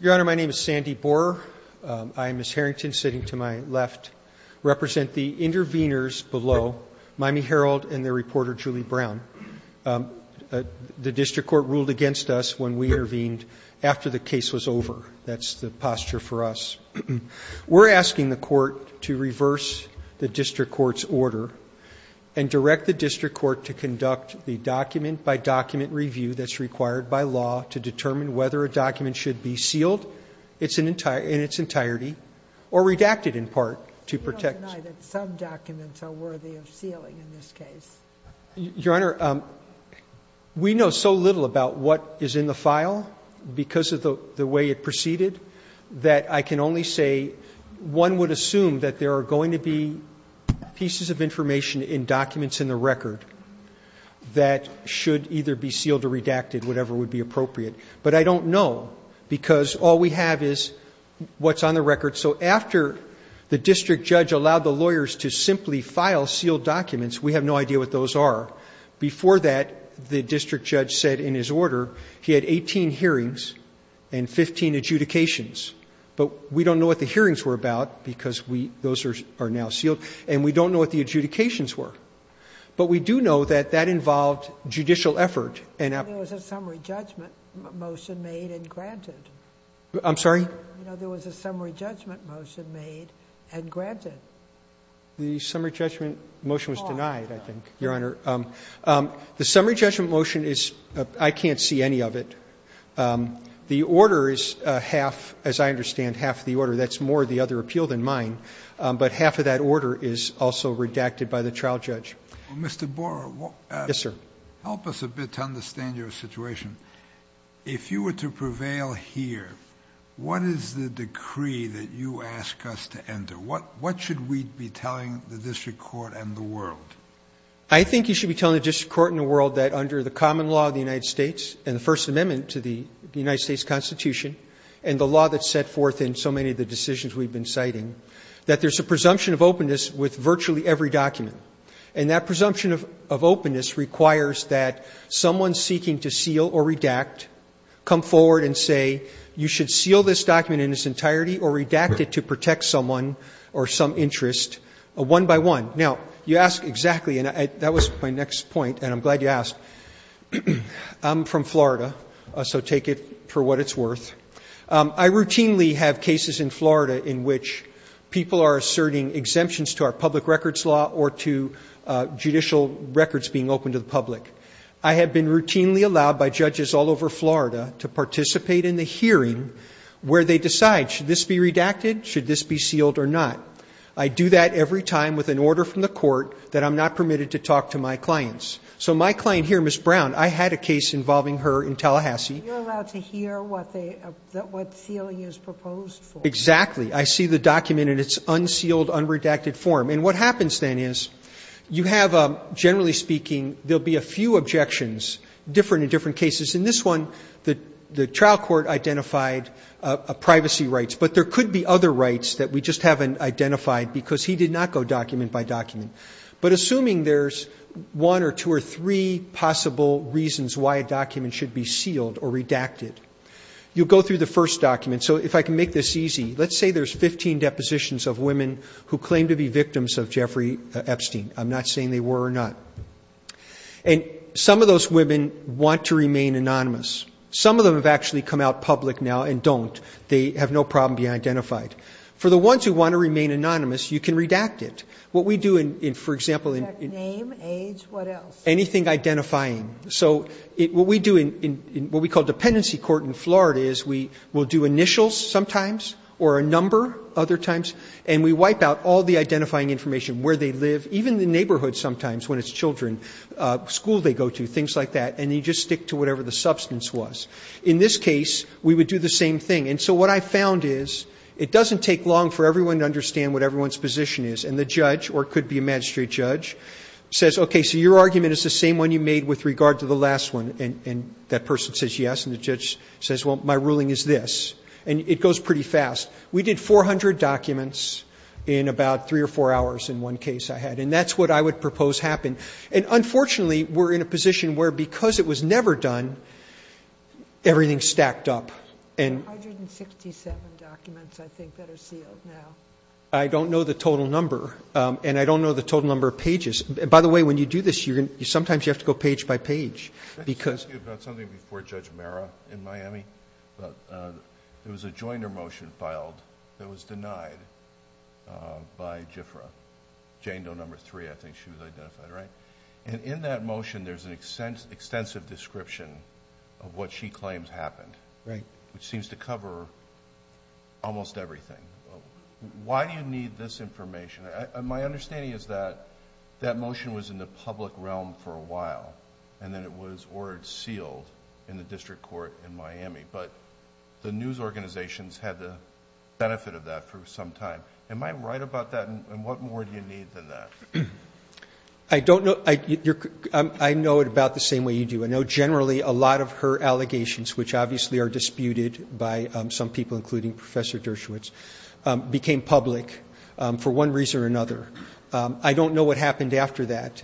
Your Honor, my name is Sandy Borer. I and Ms. Harrington sitting to my left represent the intervenors below, Miami Herald and their reporter Julie Brown. The district court ruled against us when we intervened after the case was over. That's the posture for us. We're asking the court to reverse the district court's order and direct the district court to conduct the document-by-document review that's required by law to determine whether a document should be sealed in its entirety or redacted, in part, to protect. You don't deny that some documents are worthy of sealing in this case? Your Honor, we know so little about what is in the file because of the way it proceeded that I can only say one would assume that there are going to be pieces of information in documents in the record that should either be sealed or redacted, whatever would be appropriate. But I don't know because all we have is what's on the record. So after the district judge allowed the lawyers to simply file sealed documents, we have no idea what those are. Before that, the district judge said in his order he had 18 hearings and 15 adjudications, but we don't know what the hearings were about because those are now sealed, and we don't know what the adjudications were. But we do know that that involved judicial effort and effort. There was a summary judgment motion made and granted. I'm sorry? There was a summary judgment motion made and granted. The summary judgment motion was denied, I think, Your Honor. The summary judgment motion is — I can't see any of it. The order is half — as I understand, half of the order. That's more of the other appeal than mine. But half of that order is also redacted by the trial judge. Mr. Boer, help us a bit to understand your situation. If you were to prevail here, what is the decree that you ask us to enter? What should we be telling the district court and the world? I think you should be telling the district court and the world that under the common law of the United States and the First Amendment to the United States Constitution and the law that's set forth in so many of the decisions we've been citing, that there's a presumption of openness with virtually every document. And that presumption of openness requires that someone seeking to seal or redact come forward and say, you should seal this document in its entirety or redact it to protect someone or some interest, one by one. Now, you ask exactly — and that was my next point, and I'm glad you asked — I'm from Florida, so take it for what it's worth. I routinely have cases in Florida in which people are asserting exemptions to our public records law or to judicial records being open to the public. I have been routinely allowed by judges all over Florida to participate in the hearing where they decide, should this be redacted, should this be sealed or not. I do that every time with an order from the court that I'm not permitted to talk to my clients. So my client here, Ms. Brown, I had a case involving her in Tallahassee. Sotomayor, you're allowed to hear what they — what sealing is proposed for. Exactly. I see the document in its unsealed, unredacted form. And what happens then is you have a — generally speaking, there will be a few objections, different in different cases. In this one, the trial court identified privacy rights, but there could be other rights that we just haven't identified because he did not go document by document. But assuming there's one or two or three possible reasons why a document should be sealed or redacted, you go through the first document. So if I can make this easy, let's say there's 15 depositions of women who claim to be victims of Jeffrey Epstein. I'm not saying they were or not. And some of those women want to remain anonymous. Some of them have actually come out public now and don't. They have no problem being identified. For the ones who want to remain anonymous, you can redact it. What we do in — for example, in — Redact name, age, what else? Anything identifying. So what we do in what we call dependency court in Florida is we will do initials sometimes or a number other times, and we wipe out all the identifying information, where they live, even the neighborhood sometimes, when it's children, school they go to, things like that. And you just stick to whatever the substance was. In this case, we would do the same thing. And so what I found is it doesn't take long for everyone to understand what everyone's position is. And the judge, or it could be a magistrate judge, says, okay, so your argument is the same one you made with regard to the last one. And that person says yes, and the judge says, well, my ruling is this. And it goes pretty fast. We did 400 documents in about three or four hours in one case I had. And that's what I would propose happened. And unfortunately, we're in a position where because it was never done, everything stacked up. And — There are 167 documents, I think, that are sealed now. I don't know the total number. And I don't know the total number of pages. By the way, when you do this, sometimes you have to go page by page because — Can I ask you about something before Judge Mara in Miami? But there was a joiner motion filed that was denied by JIFRA. Jane Doe number three, I think she was identified, right? And in that motion, there's an extensive description of what she claims happened. Right. Which seems to cover almost everything. Why do you need this information? My understanding is that that motion was in the public realm for a while, and then it was ordered sealed in the district court in Miami. But the news organizations had the benefit of that for some time. Am I right about that? And what more do you need than that? I don't know. I know it about the same way you do. I know generally a lot of her allegations, which obviously are disputed by some people, including Professor Dershowitz, became public for one reason or another. I don't know what happened after that.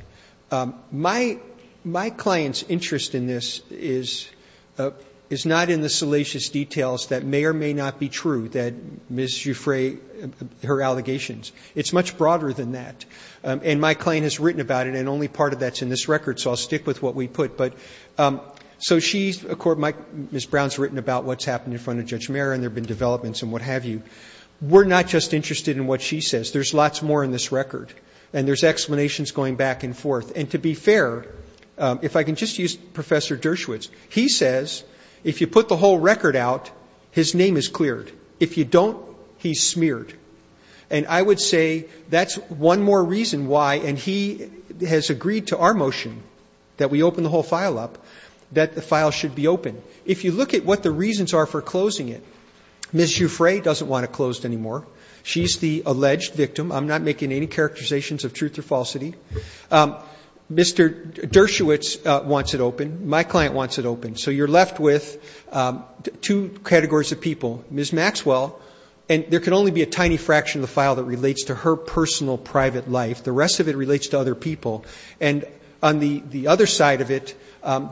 My client's interest in this is not in the salacious details that may or may not be true, that Ms. Jifra, her allegations. It's much broader than that. And my client has written about it, and only part of that's in this record, so I'll stick with what we put. But so she's, of course, Ms. Brown's written about what's happened in front of Judge Mehra, and there have been developments, and what have you. We're not just interested in what she says. There's lots more in this record, and there's explanations going back and forth. And to be fair, if I can just use Professor Dershowitz, he says if you put the whole record out, his name is cleared. If you don't, he's smeared. And I would say that's one more reason why, and he has agreed to our motion, that we open the whole file up, that the file should be open. If you look at what the reasons are for closing it, Ms. Jifra doesn't want it closed anymore. She's the alleged victim. I'm not making any characterizations of truth or falsity. Mr. Dershowitz wants it open. My client wants it open. So you're left with two categories of people, Ms. Maxwell, and there can only be a tiny fraction of the file that relates to her personal private life. The rest of it relates to other people. And on the other side of it,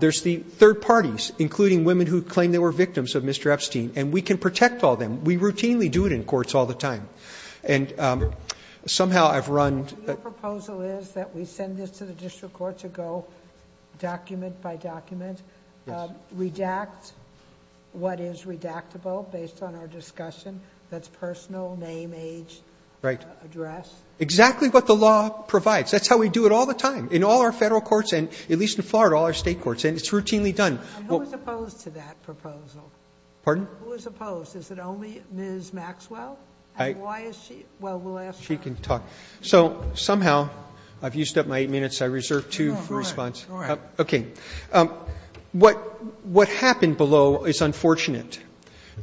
there's the third parties, including women who claim they were victims of Mr. Epstein. And we can protect all them. We routinely do it in courts all the time. And somehow I've run- The proposal is that we send this to the district court to go document by document. Redact what is redactable based on our discussion. That's personal, name, age, address. Exactly what the law provides. That's how we do it all the time, in all our Federal courts and at least in Florida, all our State courts. And it's routinely done. And who is opposed to that proposal? Pardon? Who is opposed? Is it only Ms. Maxwell? And why is she? Well, we'll ask her. She can talk. So somehow, I've used up my eight minutes. I reserve two for response. All right. Okay. What happened below is unfortunate.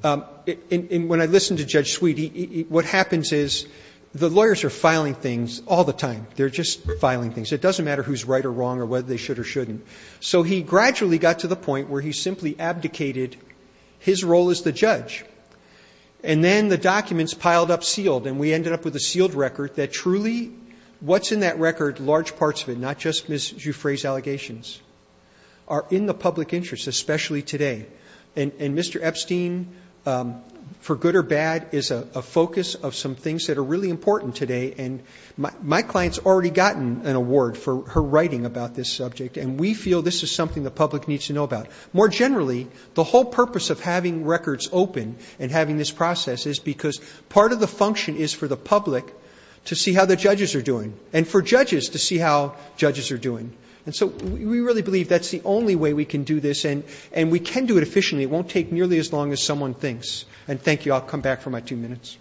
And when I listen to Judge Sweet, what happens is the lawyers are filing things all the time. They're just filing things. It doesn't matter who's right or wrong or whether they should or shouldn't. So he gradually got to the point where he simply abdicated his role as the judge. And then the documents piled up sealed. And we ended up with a sealed record that truly, what's in that record, large parts of it, not just Ms. Juffray's allegations, are in the public interest, especially today. And Mr. Epstein, for good or bad, is a focus of some things that are really important today. And my client's already gotten an award for her writing about this subject. And we feel this is something the public needs to know about. More generally, the whole purpose of having records open and having this process is because part of the function is for the public to see how the judges are doing and for judges to see how judges are doing. And so we really believe that's the only way we can do this. And we can do it efficiently. It won't take nearly as long as someone thinks. And thank you. I'll come back for my two minutes.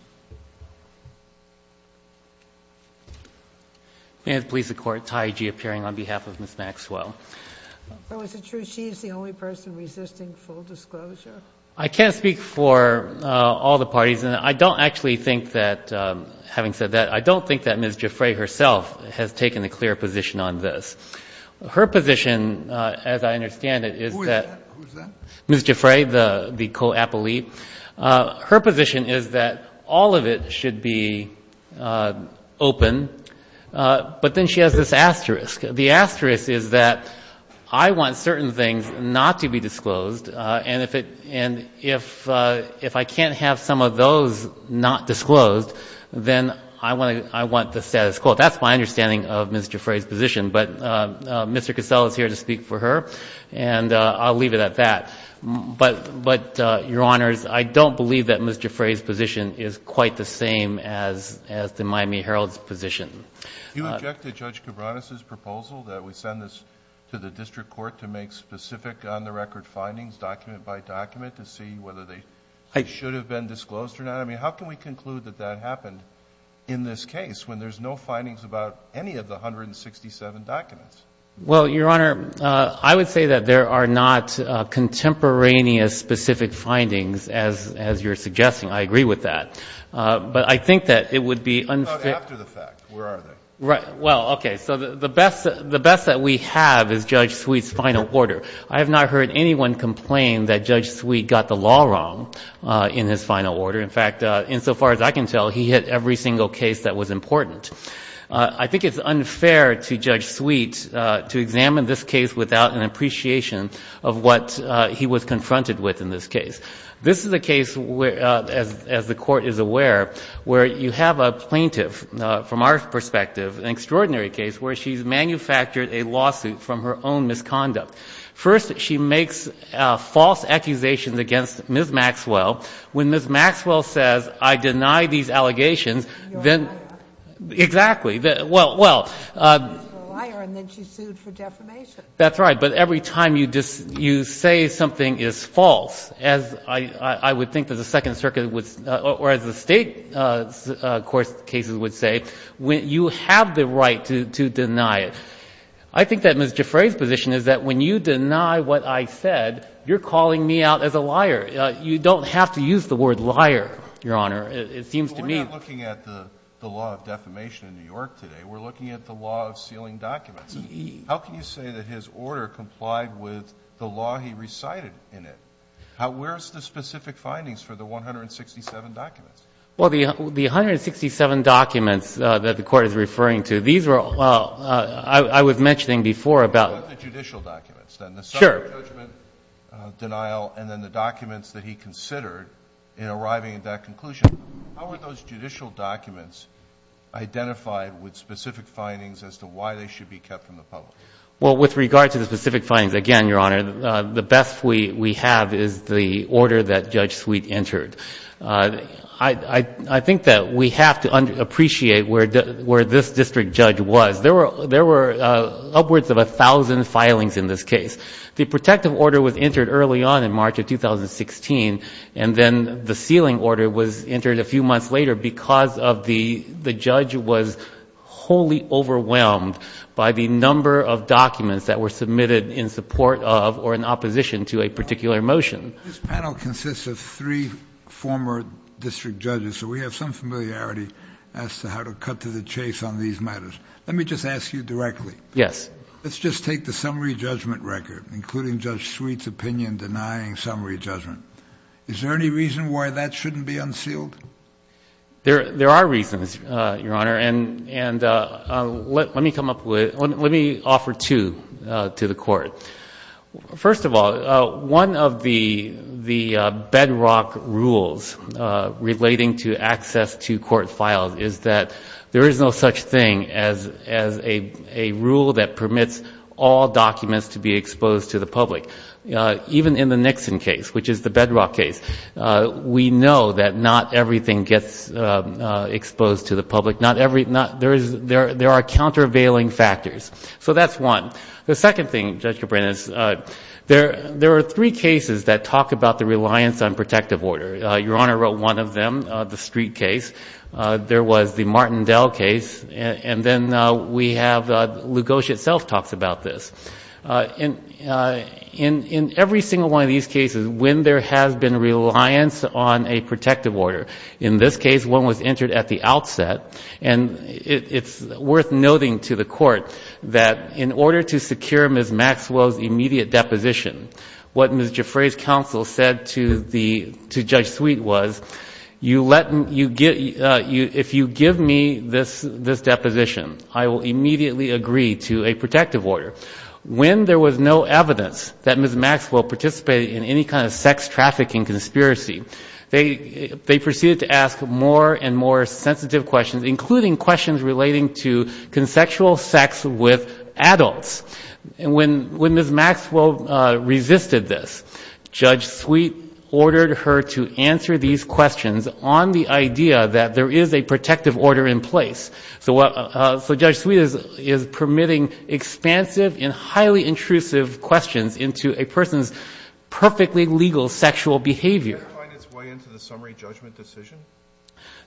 May it please the Court, Taiji appearing on behalf of Ms. Maxwell. So is it true she is the only person resisting full disclosure? I can't speak for all the parties. And I don't actually think that, having said that, I don't think that Ms. Juffray herself has taken a clear position on this. Her position, as I understand it, is that Ms. Juffray, the co-appellee, her position is that all of it should be open. But then she has this asterisk. The asterisk is that I want certain things not to be disclosed. And if I can't have some of those not disclosed, then I want the status quo. That's my understanding of Ms. Juffray's position. But Mr. Cassell is here to speak for her. And I'll leave it at that. But, Your Honors, I don't believe that Ms. Juffray's position is quite the same as the Miami Herald's position. Do you object to Judge Cabranes' proposal that we send this to the district court to make specific on-the-record findings, document by document, to see whether they should have been disclosed or not? I mean, how can we conclude that that happened in this case when there's no findings about any of the 167 documents? Well, Your Honor, I would say that there are not contemporaneous specific findings, as you're suggesting. I agree with that. But I think that it would be unfair. What about after the fact? Where are they? Right. Well, okay. So the best that we have is Judge Sweet's final order. I have not heard anyone complain that Judge Sweet got the law wrong in his final order. In fact, insofar as I can tell, he hit every single case that was important. I think it's unfair to Judge Sweet to examine this case without an appreciation of what he was confronted with in this case. This is a case, as the Court is aware, where you have a plaintiff, from our perspective, an extraordinary case where she's manufactured a lawsuit from her own misconduct. First, she makes false accusations against Ms. Maxwell. When Ms. Maxwell says, I deny these allegations, then — You're a liar. Exactly. Well — She's a liar, and then she's sued for defamation. That's right. But every time you say something is false, as I would think that the Second Circuit would — or as the State, of course, cases would say, you have the right to deny it. I think that Ms. Giffray's position is that when you deny what I said, you're calling me out as a liar. You don't have to use the word liar, Your Honor. It seems to me — We're not looking at the law of defamation in New York today. We're looking at the law of sealing documents. How can you say that his order complied with the law he recited in it? Where's the specific findings for the 167 documents? Well, the 167 documents that the Court is referring to, these were — I was mentioning before about — What about the judicial documents, then? Sure. Judgment, denial, and then the documents that he considered in arriving at that conclusion. How were those judicial documents identified with specific findings as to why they should be kept from the public? Well, with regard to the specific findings, again, Your Honor, the best we have is the order that Judge Sweet entered. I think that we have to appreciate where this district judge was. There were upwards of 1,000 filings in this case. The protective order was entered early on in March of 2016, and then the sealing order was entered a few months later because the judge was wholly overwhelmed by the number of documents that were submitted in support of or in opposition to a particular motion. This panel consists of three former district judges, so we have some familiarity as to how to cut to the chase on these matters. Let me just ask you directly. Yes. Let's just take the summary judgment record, including Judge Sweet's opinion denying summary judgment. Is there any reason why that shouldn't be unsealed? There are reasons, Your Honor, and let me come up with — let me offer two to the Court. First of all, one of the bedrock rules relating to access to court files is that there is no such thing as a rule that permits all documents to be exposed to the public, even in the Nixon case, which is the bedrock case. We know that not everything gets exposed to the public. There are countervailing factors. So that's one. The second thing, Judge Cabrera, is there are three cases that talk about the reliance on protective order. Your Honor wrote one of them, the Street case. There was the Martindale case. And then we have — Lugosia itself talks about this. In every single one of these cases, when there has been reliance on a protective order, in this case, one was entered at the outset. And it's worth noting to the Court that in order to secure Ms. Maxwell's immediate deposition, what Ms. Giuffre's counsel said to the — to Judge Sweet was, you let — if you give me this deposition, I will immediately agree to a protective order. When there was no evidence that Ms. Maxwell participated in any kind of sex trafficking conspiracy, they proceeded to ask more and more sensitive questions, including questions relating to consensual sex with adults. And when Ms. Maxwell resisted this, Judge Sweet ordered her to answer these questions on the idea that there is a protective order in place. So what — so Judge Sweet is permitting expansive and highly intrusive questions into a person's perfectly legal sexual behavior. Can it find its way into the summary judgment decision?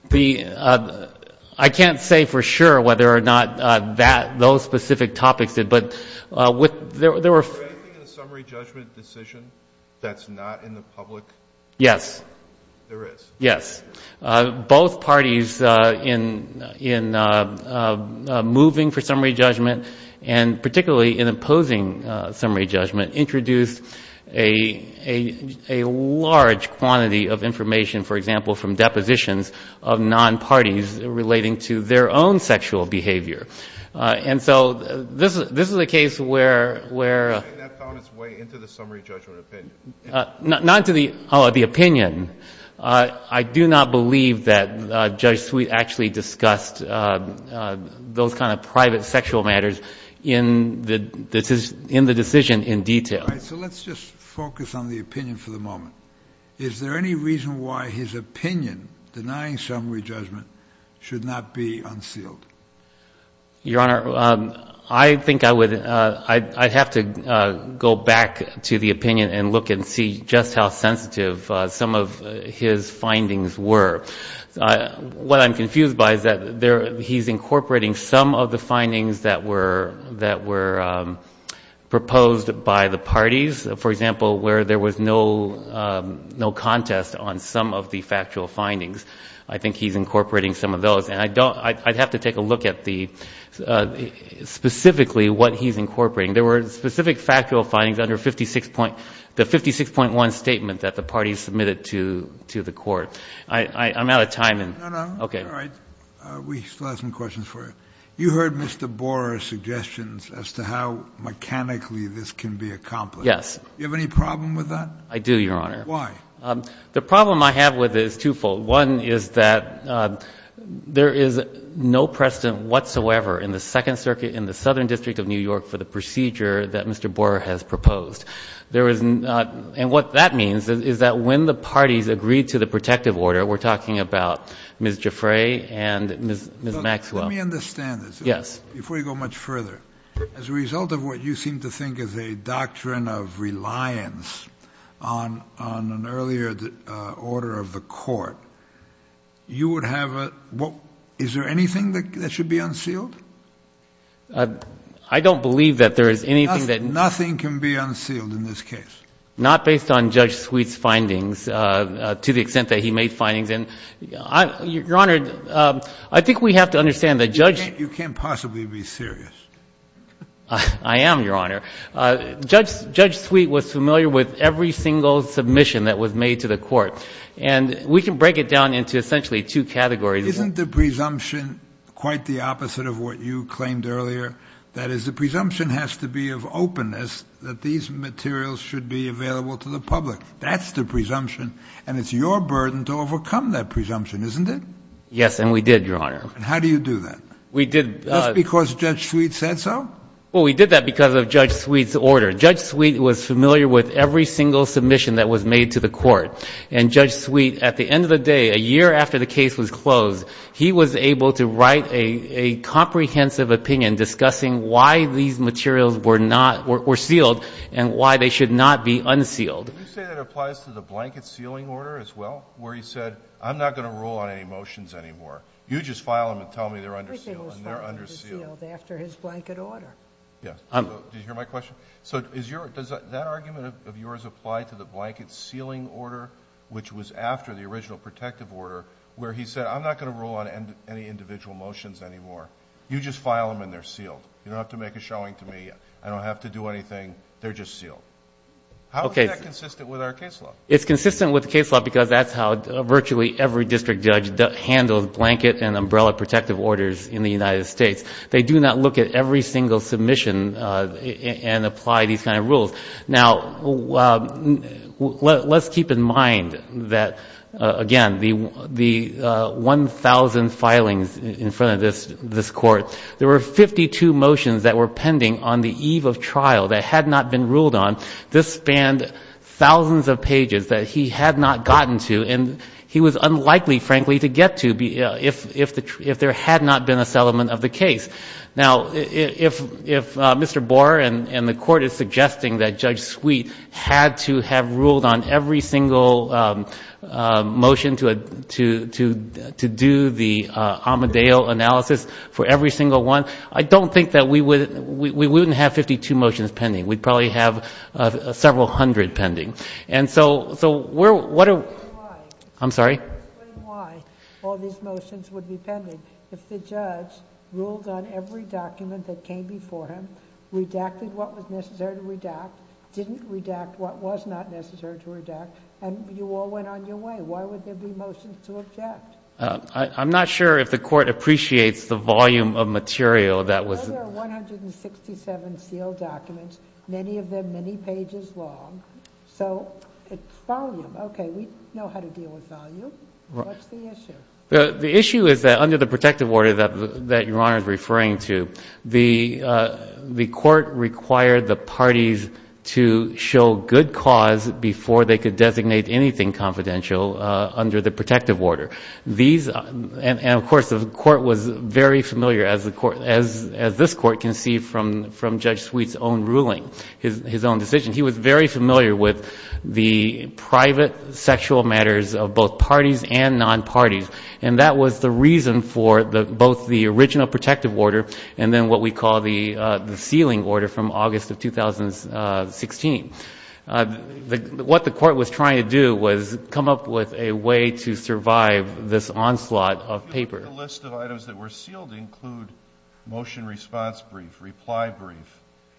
The — I can't say for sure whether or not that — those specific topics did, but there were — Is there anything in the summary judgment decision that's not in the public? Yes. There is? Yes. Both parties in — in moving for summary judgment, and particularly in opposing summary judgment, introduced a — a large quantity of information, for example, from depositions of non-parties relating to their own sexual behavior. And so this — this is a case where — where — You're saying that found its way into the summary judgment opinion? Not into the — oh, the opinion. I do not believe that Judge Sweet actually discussed those kind of private sexual matters in the — in the decision in detail. All right, so let's just focus on the opinion for the moment. Is there any reason why his opinion denying summary judgment should not be unsealed? Your Honor, I think I would — I'd have to go back to the opinion and look and see just how sensitive some of his findings were. What I'm confused by is that there — he's incorporating some of the findings that were — that were proposed by the parties, for example, where there was no — no contest on some of the factual findings. I think he's incorporating some of those. And I don't — I'd have to take a look at the — specifically what he's incorporating. There were specific factual findings under 56 — the 56.1 statement that the parties submitted to — to the court. I'm out of time, and — No, no. Okay. All right. We still have some questions for you. You heard Mr. Borer's suggestions as to how mechanically this can be accomplished. Yes. Do you have any problem with that? I do, Your Honor. Why? The problem I have with it is twofold. One is that there is no precedent whatsoever in the Second Circuit in the Southern District of New York for the procedure that Mr. Borer has proposed. There is not — and what that means is that when the parties agreed to the protective order — we're talking about Ms. Giuffre and Ms. Maxwell. Let me understand this. Yes. Before you go much further. As a result of what you seem to think is a doctrine of reliance on an earlier order of the court, you would have a — is there anything that should be unsealed? I don't believe that there is anything that — Nothing can be unsealed in this case. Not based on Judge Sweet's findings, to the extent that he made findings. And, Your Honor, I think we have to understand that Judge — You can't possibly be serious. I am, Your Honor. Judge Sweet was familiar with every single submission that was made to the court. And we can break it down into essentially two categories. Isn't the presumption quite the opposite of what you claimed earlier? That is, the presumption has to be of openness that these materials should be available to the public. That's the presumption. And it's your burden to overcome that presumption, isn't it? Yes, and we did, Your Honor. And how do you do that? We did — Just because Judge Sweet said so? Well, we did that because of Judge Sweet's order. Judge Sweet was familiar with every single submission that was made to the court. And Judge Sweet, at the end of the day, a year after the case was closed, he was able to write a comprehensive opinion discussing why these materials were not — were sealed and why they should not be unsealed. Would you say that applies to the blanket sealing order as well, where he said, I'm not going to rule on any motions anymore. You just file them and tell me they're unsealed and they're unsealed. Everything was filed and sealed after his blanket order. Yes. Did you hear my question? So is your — does that argument of yours apply to the blanket sealing order, which was after the original protective order, where he said, I'm not going to rule on any individual motions anymore. You just file them and they're sealed. You don't have to make a showing to me. I don't have to do anything. They're just sealed. How is that consistent with our case law? It's consistent with the case law because that's how virtually every district judge handles blanket and umbrella protective orders in the United States. They do not look at every single submission and apply these kind of rules. Now, let's keep in mind that, again, the 1,000 filings in front of this Court, there were 52 motions that were pending on the eve of trial that had not been ruled on. This spanned thousands of pages that he had not gotten to, and he was unlikely, frankly, to get to if there had not been a settlement of the case. Now, if Mr. Boer and the Court is suggesting that Judge Sweet had to have ruled on every single motion to do the Amadale analysis for every single one, I don't think that we would — we wouldn't have 52 motions pending. We'd probably have several hundred pending. And so we're — Explain why. I'm sorry? Explain why all these motions would be pending. If the judge ruled on every document that came before him, redacted what was necessary to redact, didn't redact what was not necessary to redact, and you all went on your way, why would there be motions to object? I'm not sure if the Court appreciates the volume of material that was — There were 167 sealed documents, many of them many pages long. So it's volume. Okay, we know how to deal with volume. What's the issue? The issue is that under the protective order that Your Honor is referring to, the Court required the parties to show good cause before they could designate anything confidential under the protective order. And, of course, the Court was very familiar, as this Court can see from Judge Sweet's own ruling, his own decision. He was very familiar with the private sexual matters of both parties and non-parties. And that was the reason for both the original protective order and then what we call the sealing order from August of 2016. What the Court was trying to do was come up with a way to survive this onslaught of papers. The list of items that were sealed include motion response brief, reply brief,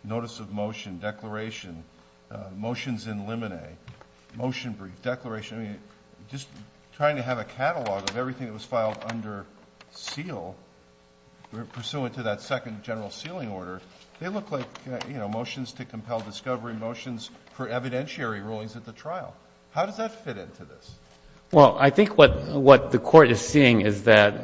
notice of motion, declaration, motions in limine, motion brief, declaration. I mean, just trying to have a catalog of everything that was filed under seal, pursuant to that second general sealing order, they look like motions to compel discovery, motions for evidentiary rulings at the trial. How does that fit into this? Well, I think what the Court is seeing is that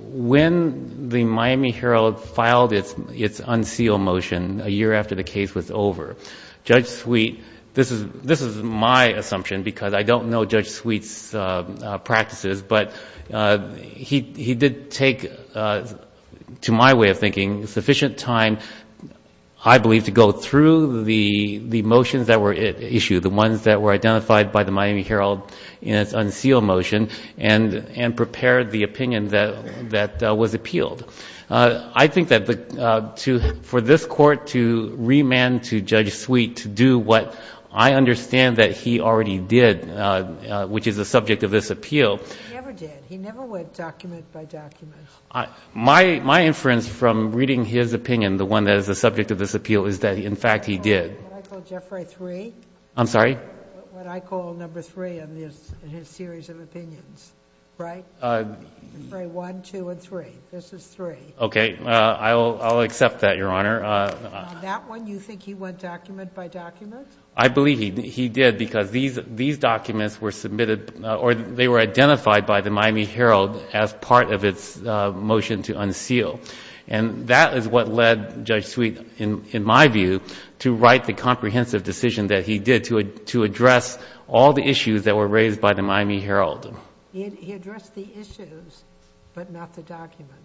when the Miami Herald filed its unsealed motion a year after the case was over, Judge Sweet, this is my assumption because I don't know Judge Sweet's practices, but he did take, to my way of thinking, sufficient time, I believe, to go through the motions that were issued, the ones that were identified by the Miami Herald in its unsealed motion, and prepared the opinion that was appealed. I think that for this Court to remand to Judge Sweet to do what I understand that he already did, which is the subject of this appeal. He never did. He never went document by document. My inference from reading his opinion, the one that is the subject of this appeal, is that, in fact, he did. What I call Jeffrey 3. I'm sorry? What I call number 3 in his series of opinions, right? Jeffrey 1, 2, and 3. This is 3. Okay. I'll accept that, Your Honor. That one, you think he went document by document? I believe he did because these documents were submitted or they were identified by the Miami Herald as part of its motion to unseal. And that is what led Judge Sweet, in my view, to write the comprehensive decision that he did to address all the issues that were raised by the Miami Herald. He addressed the issues, but not the documents.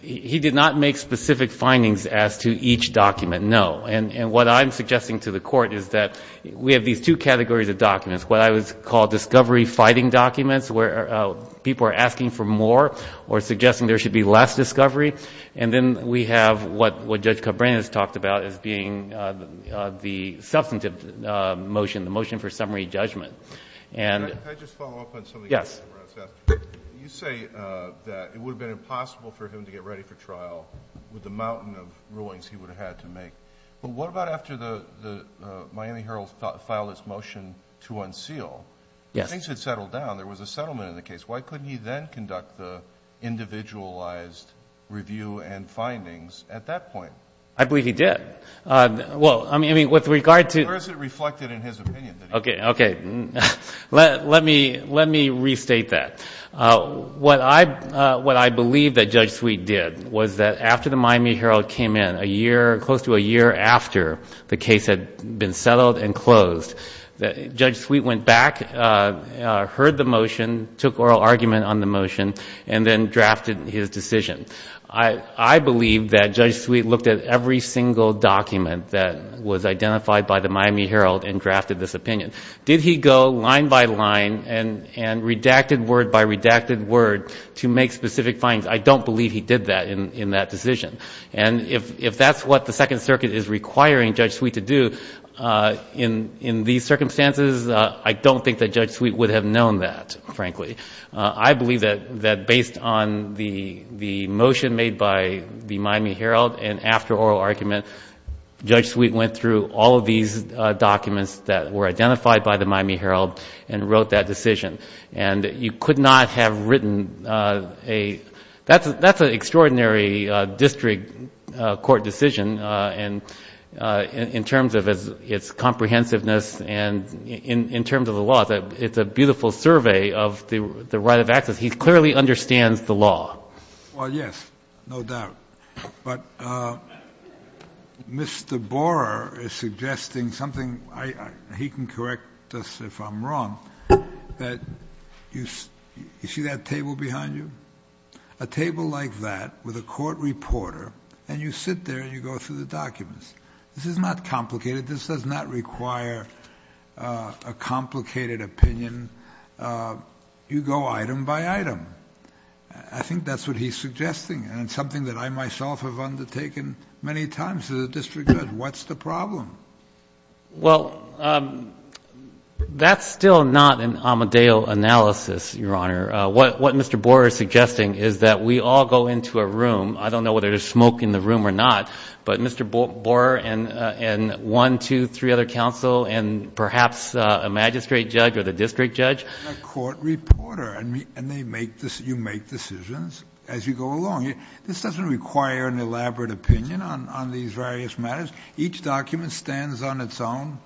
He did not make specific findings as to each document, no. And what I'm suggesting to the Court is that we have these two categories of documents. What I would call discovery-fighting documents, where people are asking for more or suggesting there should be less discovery. And then we have what Judge Cabrera has talked about as being the substantive motion, the motion for summary judgment. And ‑‑ Can I just follow up on something? Yes. You say that it would have been impossible for him to get ready for trial with the mountain of rulings he would have had to make. But what about after the Miami Herald filed its motion to unseal? Yes. Things had settled down. There was a settlement in the case. Why couldn't he then conduct the individualized review and findings at that point? I believe he did. Well, I mean, with regard to ‑‑ Or is it reflected in his opinion? Okay. Let me restate that. What I believe that Judge Sweet did was that after the Miami Herald came in, a year, close to a year after the case had been settled and closed, Judge Sweet went back, heard the motion, took oral argument on the motion, and then drafted his decision. I believe that Judge Sweet looked at every single document that was identified by the Miami Herald and drafted this opinion. Did he go line by line and redacted word by redacted word to make specific findings? I don't believe he did that in that decision. And if that's what the Second Circuit is requiring Judge Sweet to do in these circumstances, I don't think that Judge Sweet would have known that, frankly. I believe that based on the motion made by the Miami Herald and after oral argument, Judge Sweet went through all of these documents that were identified by the Miami Herald and wrote that decision. And you could not have written a ‑‑ that's an extraordinary district court decision in terms of its comprehensiveness and in terms of the law. It's a beautiful survey of the right of access. He clearly understands the law. Well, yes, no doubt. But Mr. Borer is suggesting something. He can correct us if I'm wrong. You see that table behind you? A table like that with a court reporter, and you sit there and you go through the documents. This is not complicated. This does not require a complicated opinion. You go item by item. I think that's what he's suggesting, and it's something that I myself have undertaken many times as a district judge. What's the problem? Well, that's still not an Amadeo analysis, Your Honor. What Mr. Borer is suggesting is that we all go into a room. I don't know whether there's smoke in the room or not, but Mr. Borer and one, two, three other counsel, and perhaps a magistrate judge or the district judge. A court reporter, and you make decisions as you go along. This doesn't require an elaborate opinion on these various matters. Each document stands on its own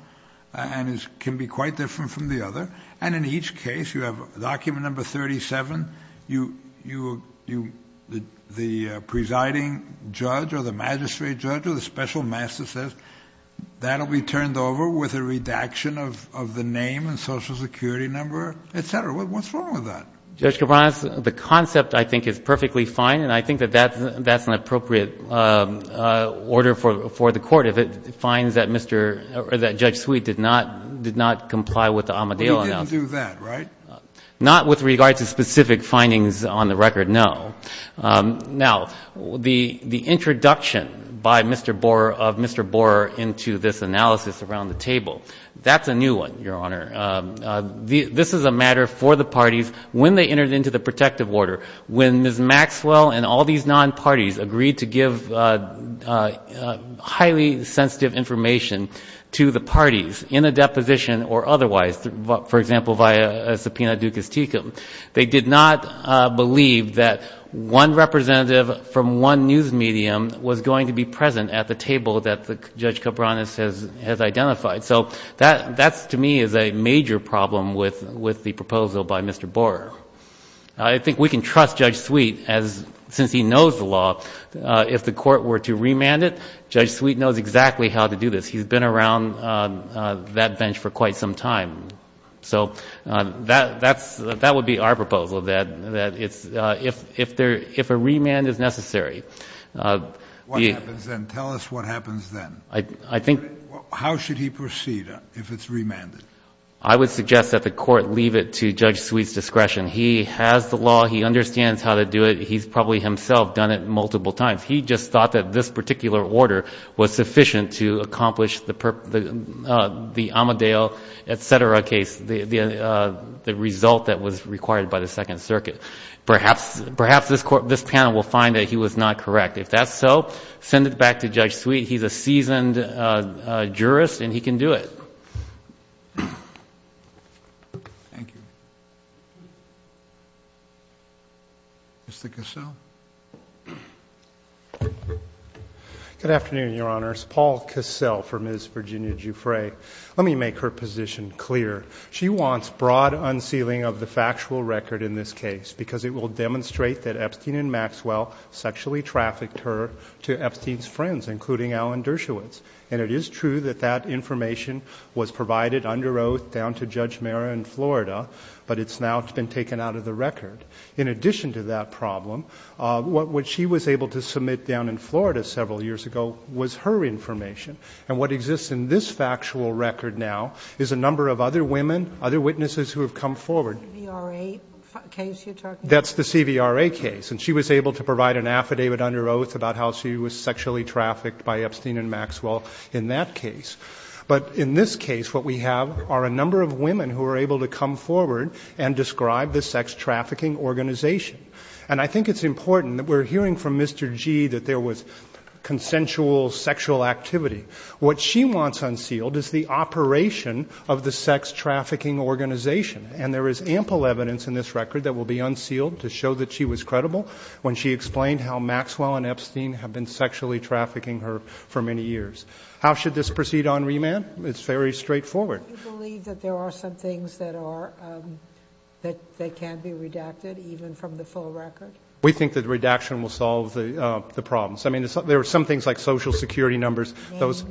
and can be quite different from the other, and in each case you have document number 37. The presiding judge or the magistrate judge or the special master says, that will be turned over with a redaction of the name and social security number, et cetera. What's wrong with that? Judge Cabranes, the concept I think is perfectly fine, and I think that that's an appropriate order for the court if it finds that Mr. or that Judge Sweet did not comply with the Amadeo analysis. But we didn't do that, right? Not with regard to specific findings on the record, no. Now, the introduction by Mr. Borer of Mr. Borer into this analysis around the table, that's a new one, Your Honor. This is a matter for the parties when they entered into the protective order. When Ms. Maxwell and all these non-parties agreed to give highly sensitive information to the parties in a deposition or otherwise, for example, via a subpoena ducis tecum, they did not believe that one representative from one news medium was going to be present at the table that Judge Cabranes has identified. So that to me is a major problem with the proposal by Mr. Borer. I think we can trust Judge Sweet since he knows the law. If the court were to remand it, Judge Sweet knows exactly how to do this. He's been around that bench for quite some time. So that would be our proposal, that if a remand is necessary. What happens then? Tell us what happens then. How should he proceed if it's remanded? I would suggest that the court leave it to Judge Sweet's discretion. He has the law. He understands how to do it. He's probably himself done it multiple times. He just thought that this particular order was sufficient to accomplish the Amadeo, et cetera, case, the result that was required by the Second Circuit. Perhaps this panel will find that he was not correct. If that's so, send it back to Judge Sweet. He's a seasoned jurist and he can do it. Thank you. Mr. Cassell. Good afternoon, Your Honors. Paul Cassell for Ms. Virginia Giuffre. Let me make her position clear. She wants broad unsealing of the factual record in this case because it will demonstrate that Epstein and Maxwell sexually trafficked her to Epstein's friends, including Alan Dershowitz. And it is true that that information was provided under oath down to Judge Mara in Florida, but it's now been taken out of the record. In addition to that problem, what she was able to submit down in Florida several years ago was her information. And what exists in this factual record now is a number of other women, other witnesses who have come forward. The CVRA case you're talking about? That's the CVRA case. And she was able to provide an affidavit under oath about how she was sexually trafficked by Epstein and Maxwell in that case. But in this case, what we have are a number of women who were able to come forward and describe the sex trafficking organization. And I think it's important that we're hearing from Mr. G that there was consensual sexual activity. What she wants unsealed is the operation of the sex trafficking organization, and there is ample evidence in this record that will be unsealed to show that she was credible when she explained how Maxwell and Epstein had been sexually trafficking her for many years. How should this proceed on remand? It's very straightforward. Do you believe that there are some things that are, that can be redacted, even from the full record? We think that redaction will solve the problems. I mean, there are some things like Social Security numbers. Names.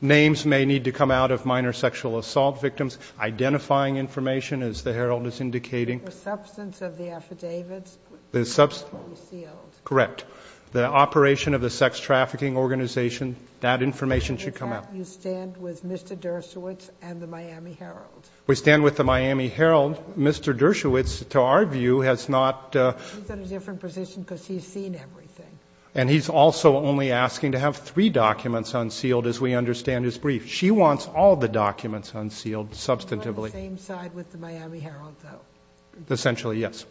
Names may need to come out of minor sexual assault victims. Identifying information, as the Herald is indicating. The substance of the affidavits. The substance. Unsealed. Correct. The operation of the sex trafficking organization, that information should come out. With that, you stand with Mr. Dershowitz and the Miami Herald. We stand with the Miami Herald. Mr. Dershowitz, to our view, has not... He's in a different position because he's seen everything. And he's also only asking to have three documents unsealed, as we understand his brief. She wants all the documents unsealed, substantively. You're on the same side with the Miami Herald, though. Essentially, yes.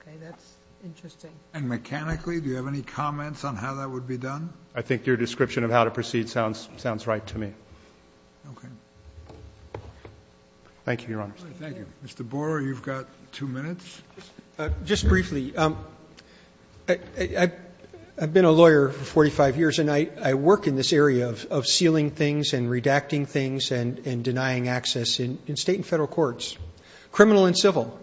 Okay. That's interesting. And mechanically, do you have any comments on how that would be done? I think your description of how to proceed sounds right to me. Okay. Thank you, Your Honor. Thank you. Mr. Borer, you've got two minutes. Just briefly, I've been a lawyer for 45 years, and I work in this area of sealing things and redacting things and denying access in State and Federal courts. Criminal and civil.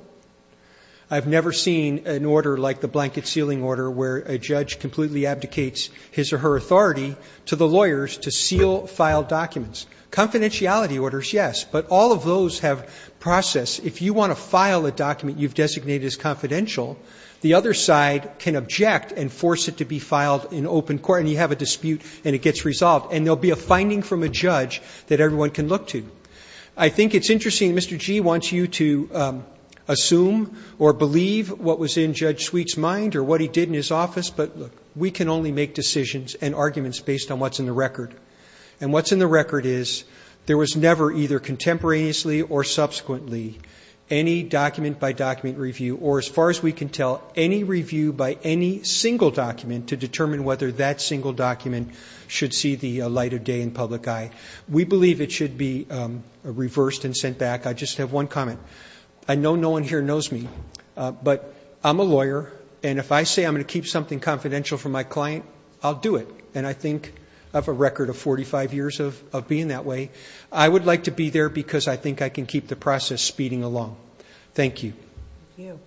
I've never seen an order like the blanket sealing order where a judge completely abdicates his or her authority to the lawyers to seal, file documents. Confidentiality orders, yes. But all of those have process. If you want to file a document you've designated as confidential, the other side can object and force it to be filed in open court, and you have a dispute and it gets resolved, and there will be a finding from a judge that everyone can look to. I think it's interesting. Mr. Gee wants you to assume or believe what was in Judge Sweet's mind or what he did in his office, And what's in the record is there was never either contemporaneously or subsequently any document-by-document review or, as far as we can tell, any review by any single document to determine whether that single document should see the light of day in public eye. We believe it should be reversed and sent back. I just have one comment. I know no one here knows me, but I'm a lawyer, and if I say I'm going to keep something confidential from my client, I'll do it. And I think I have a record of 45 years of being that way. I would like to be there because I think I can keep the process speeding along. Thank you.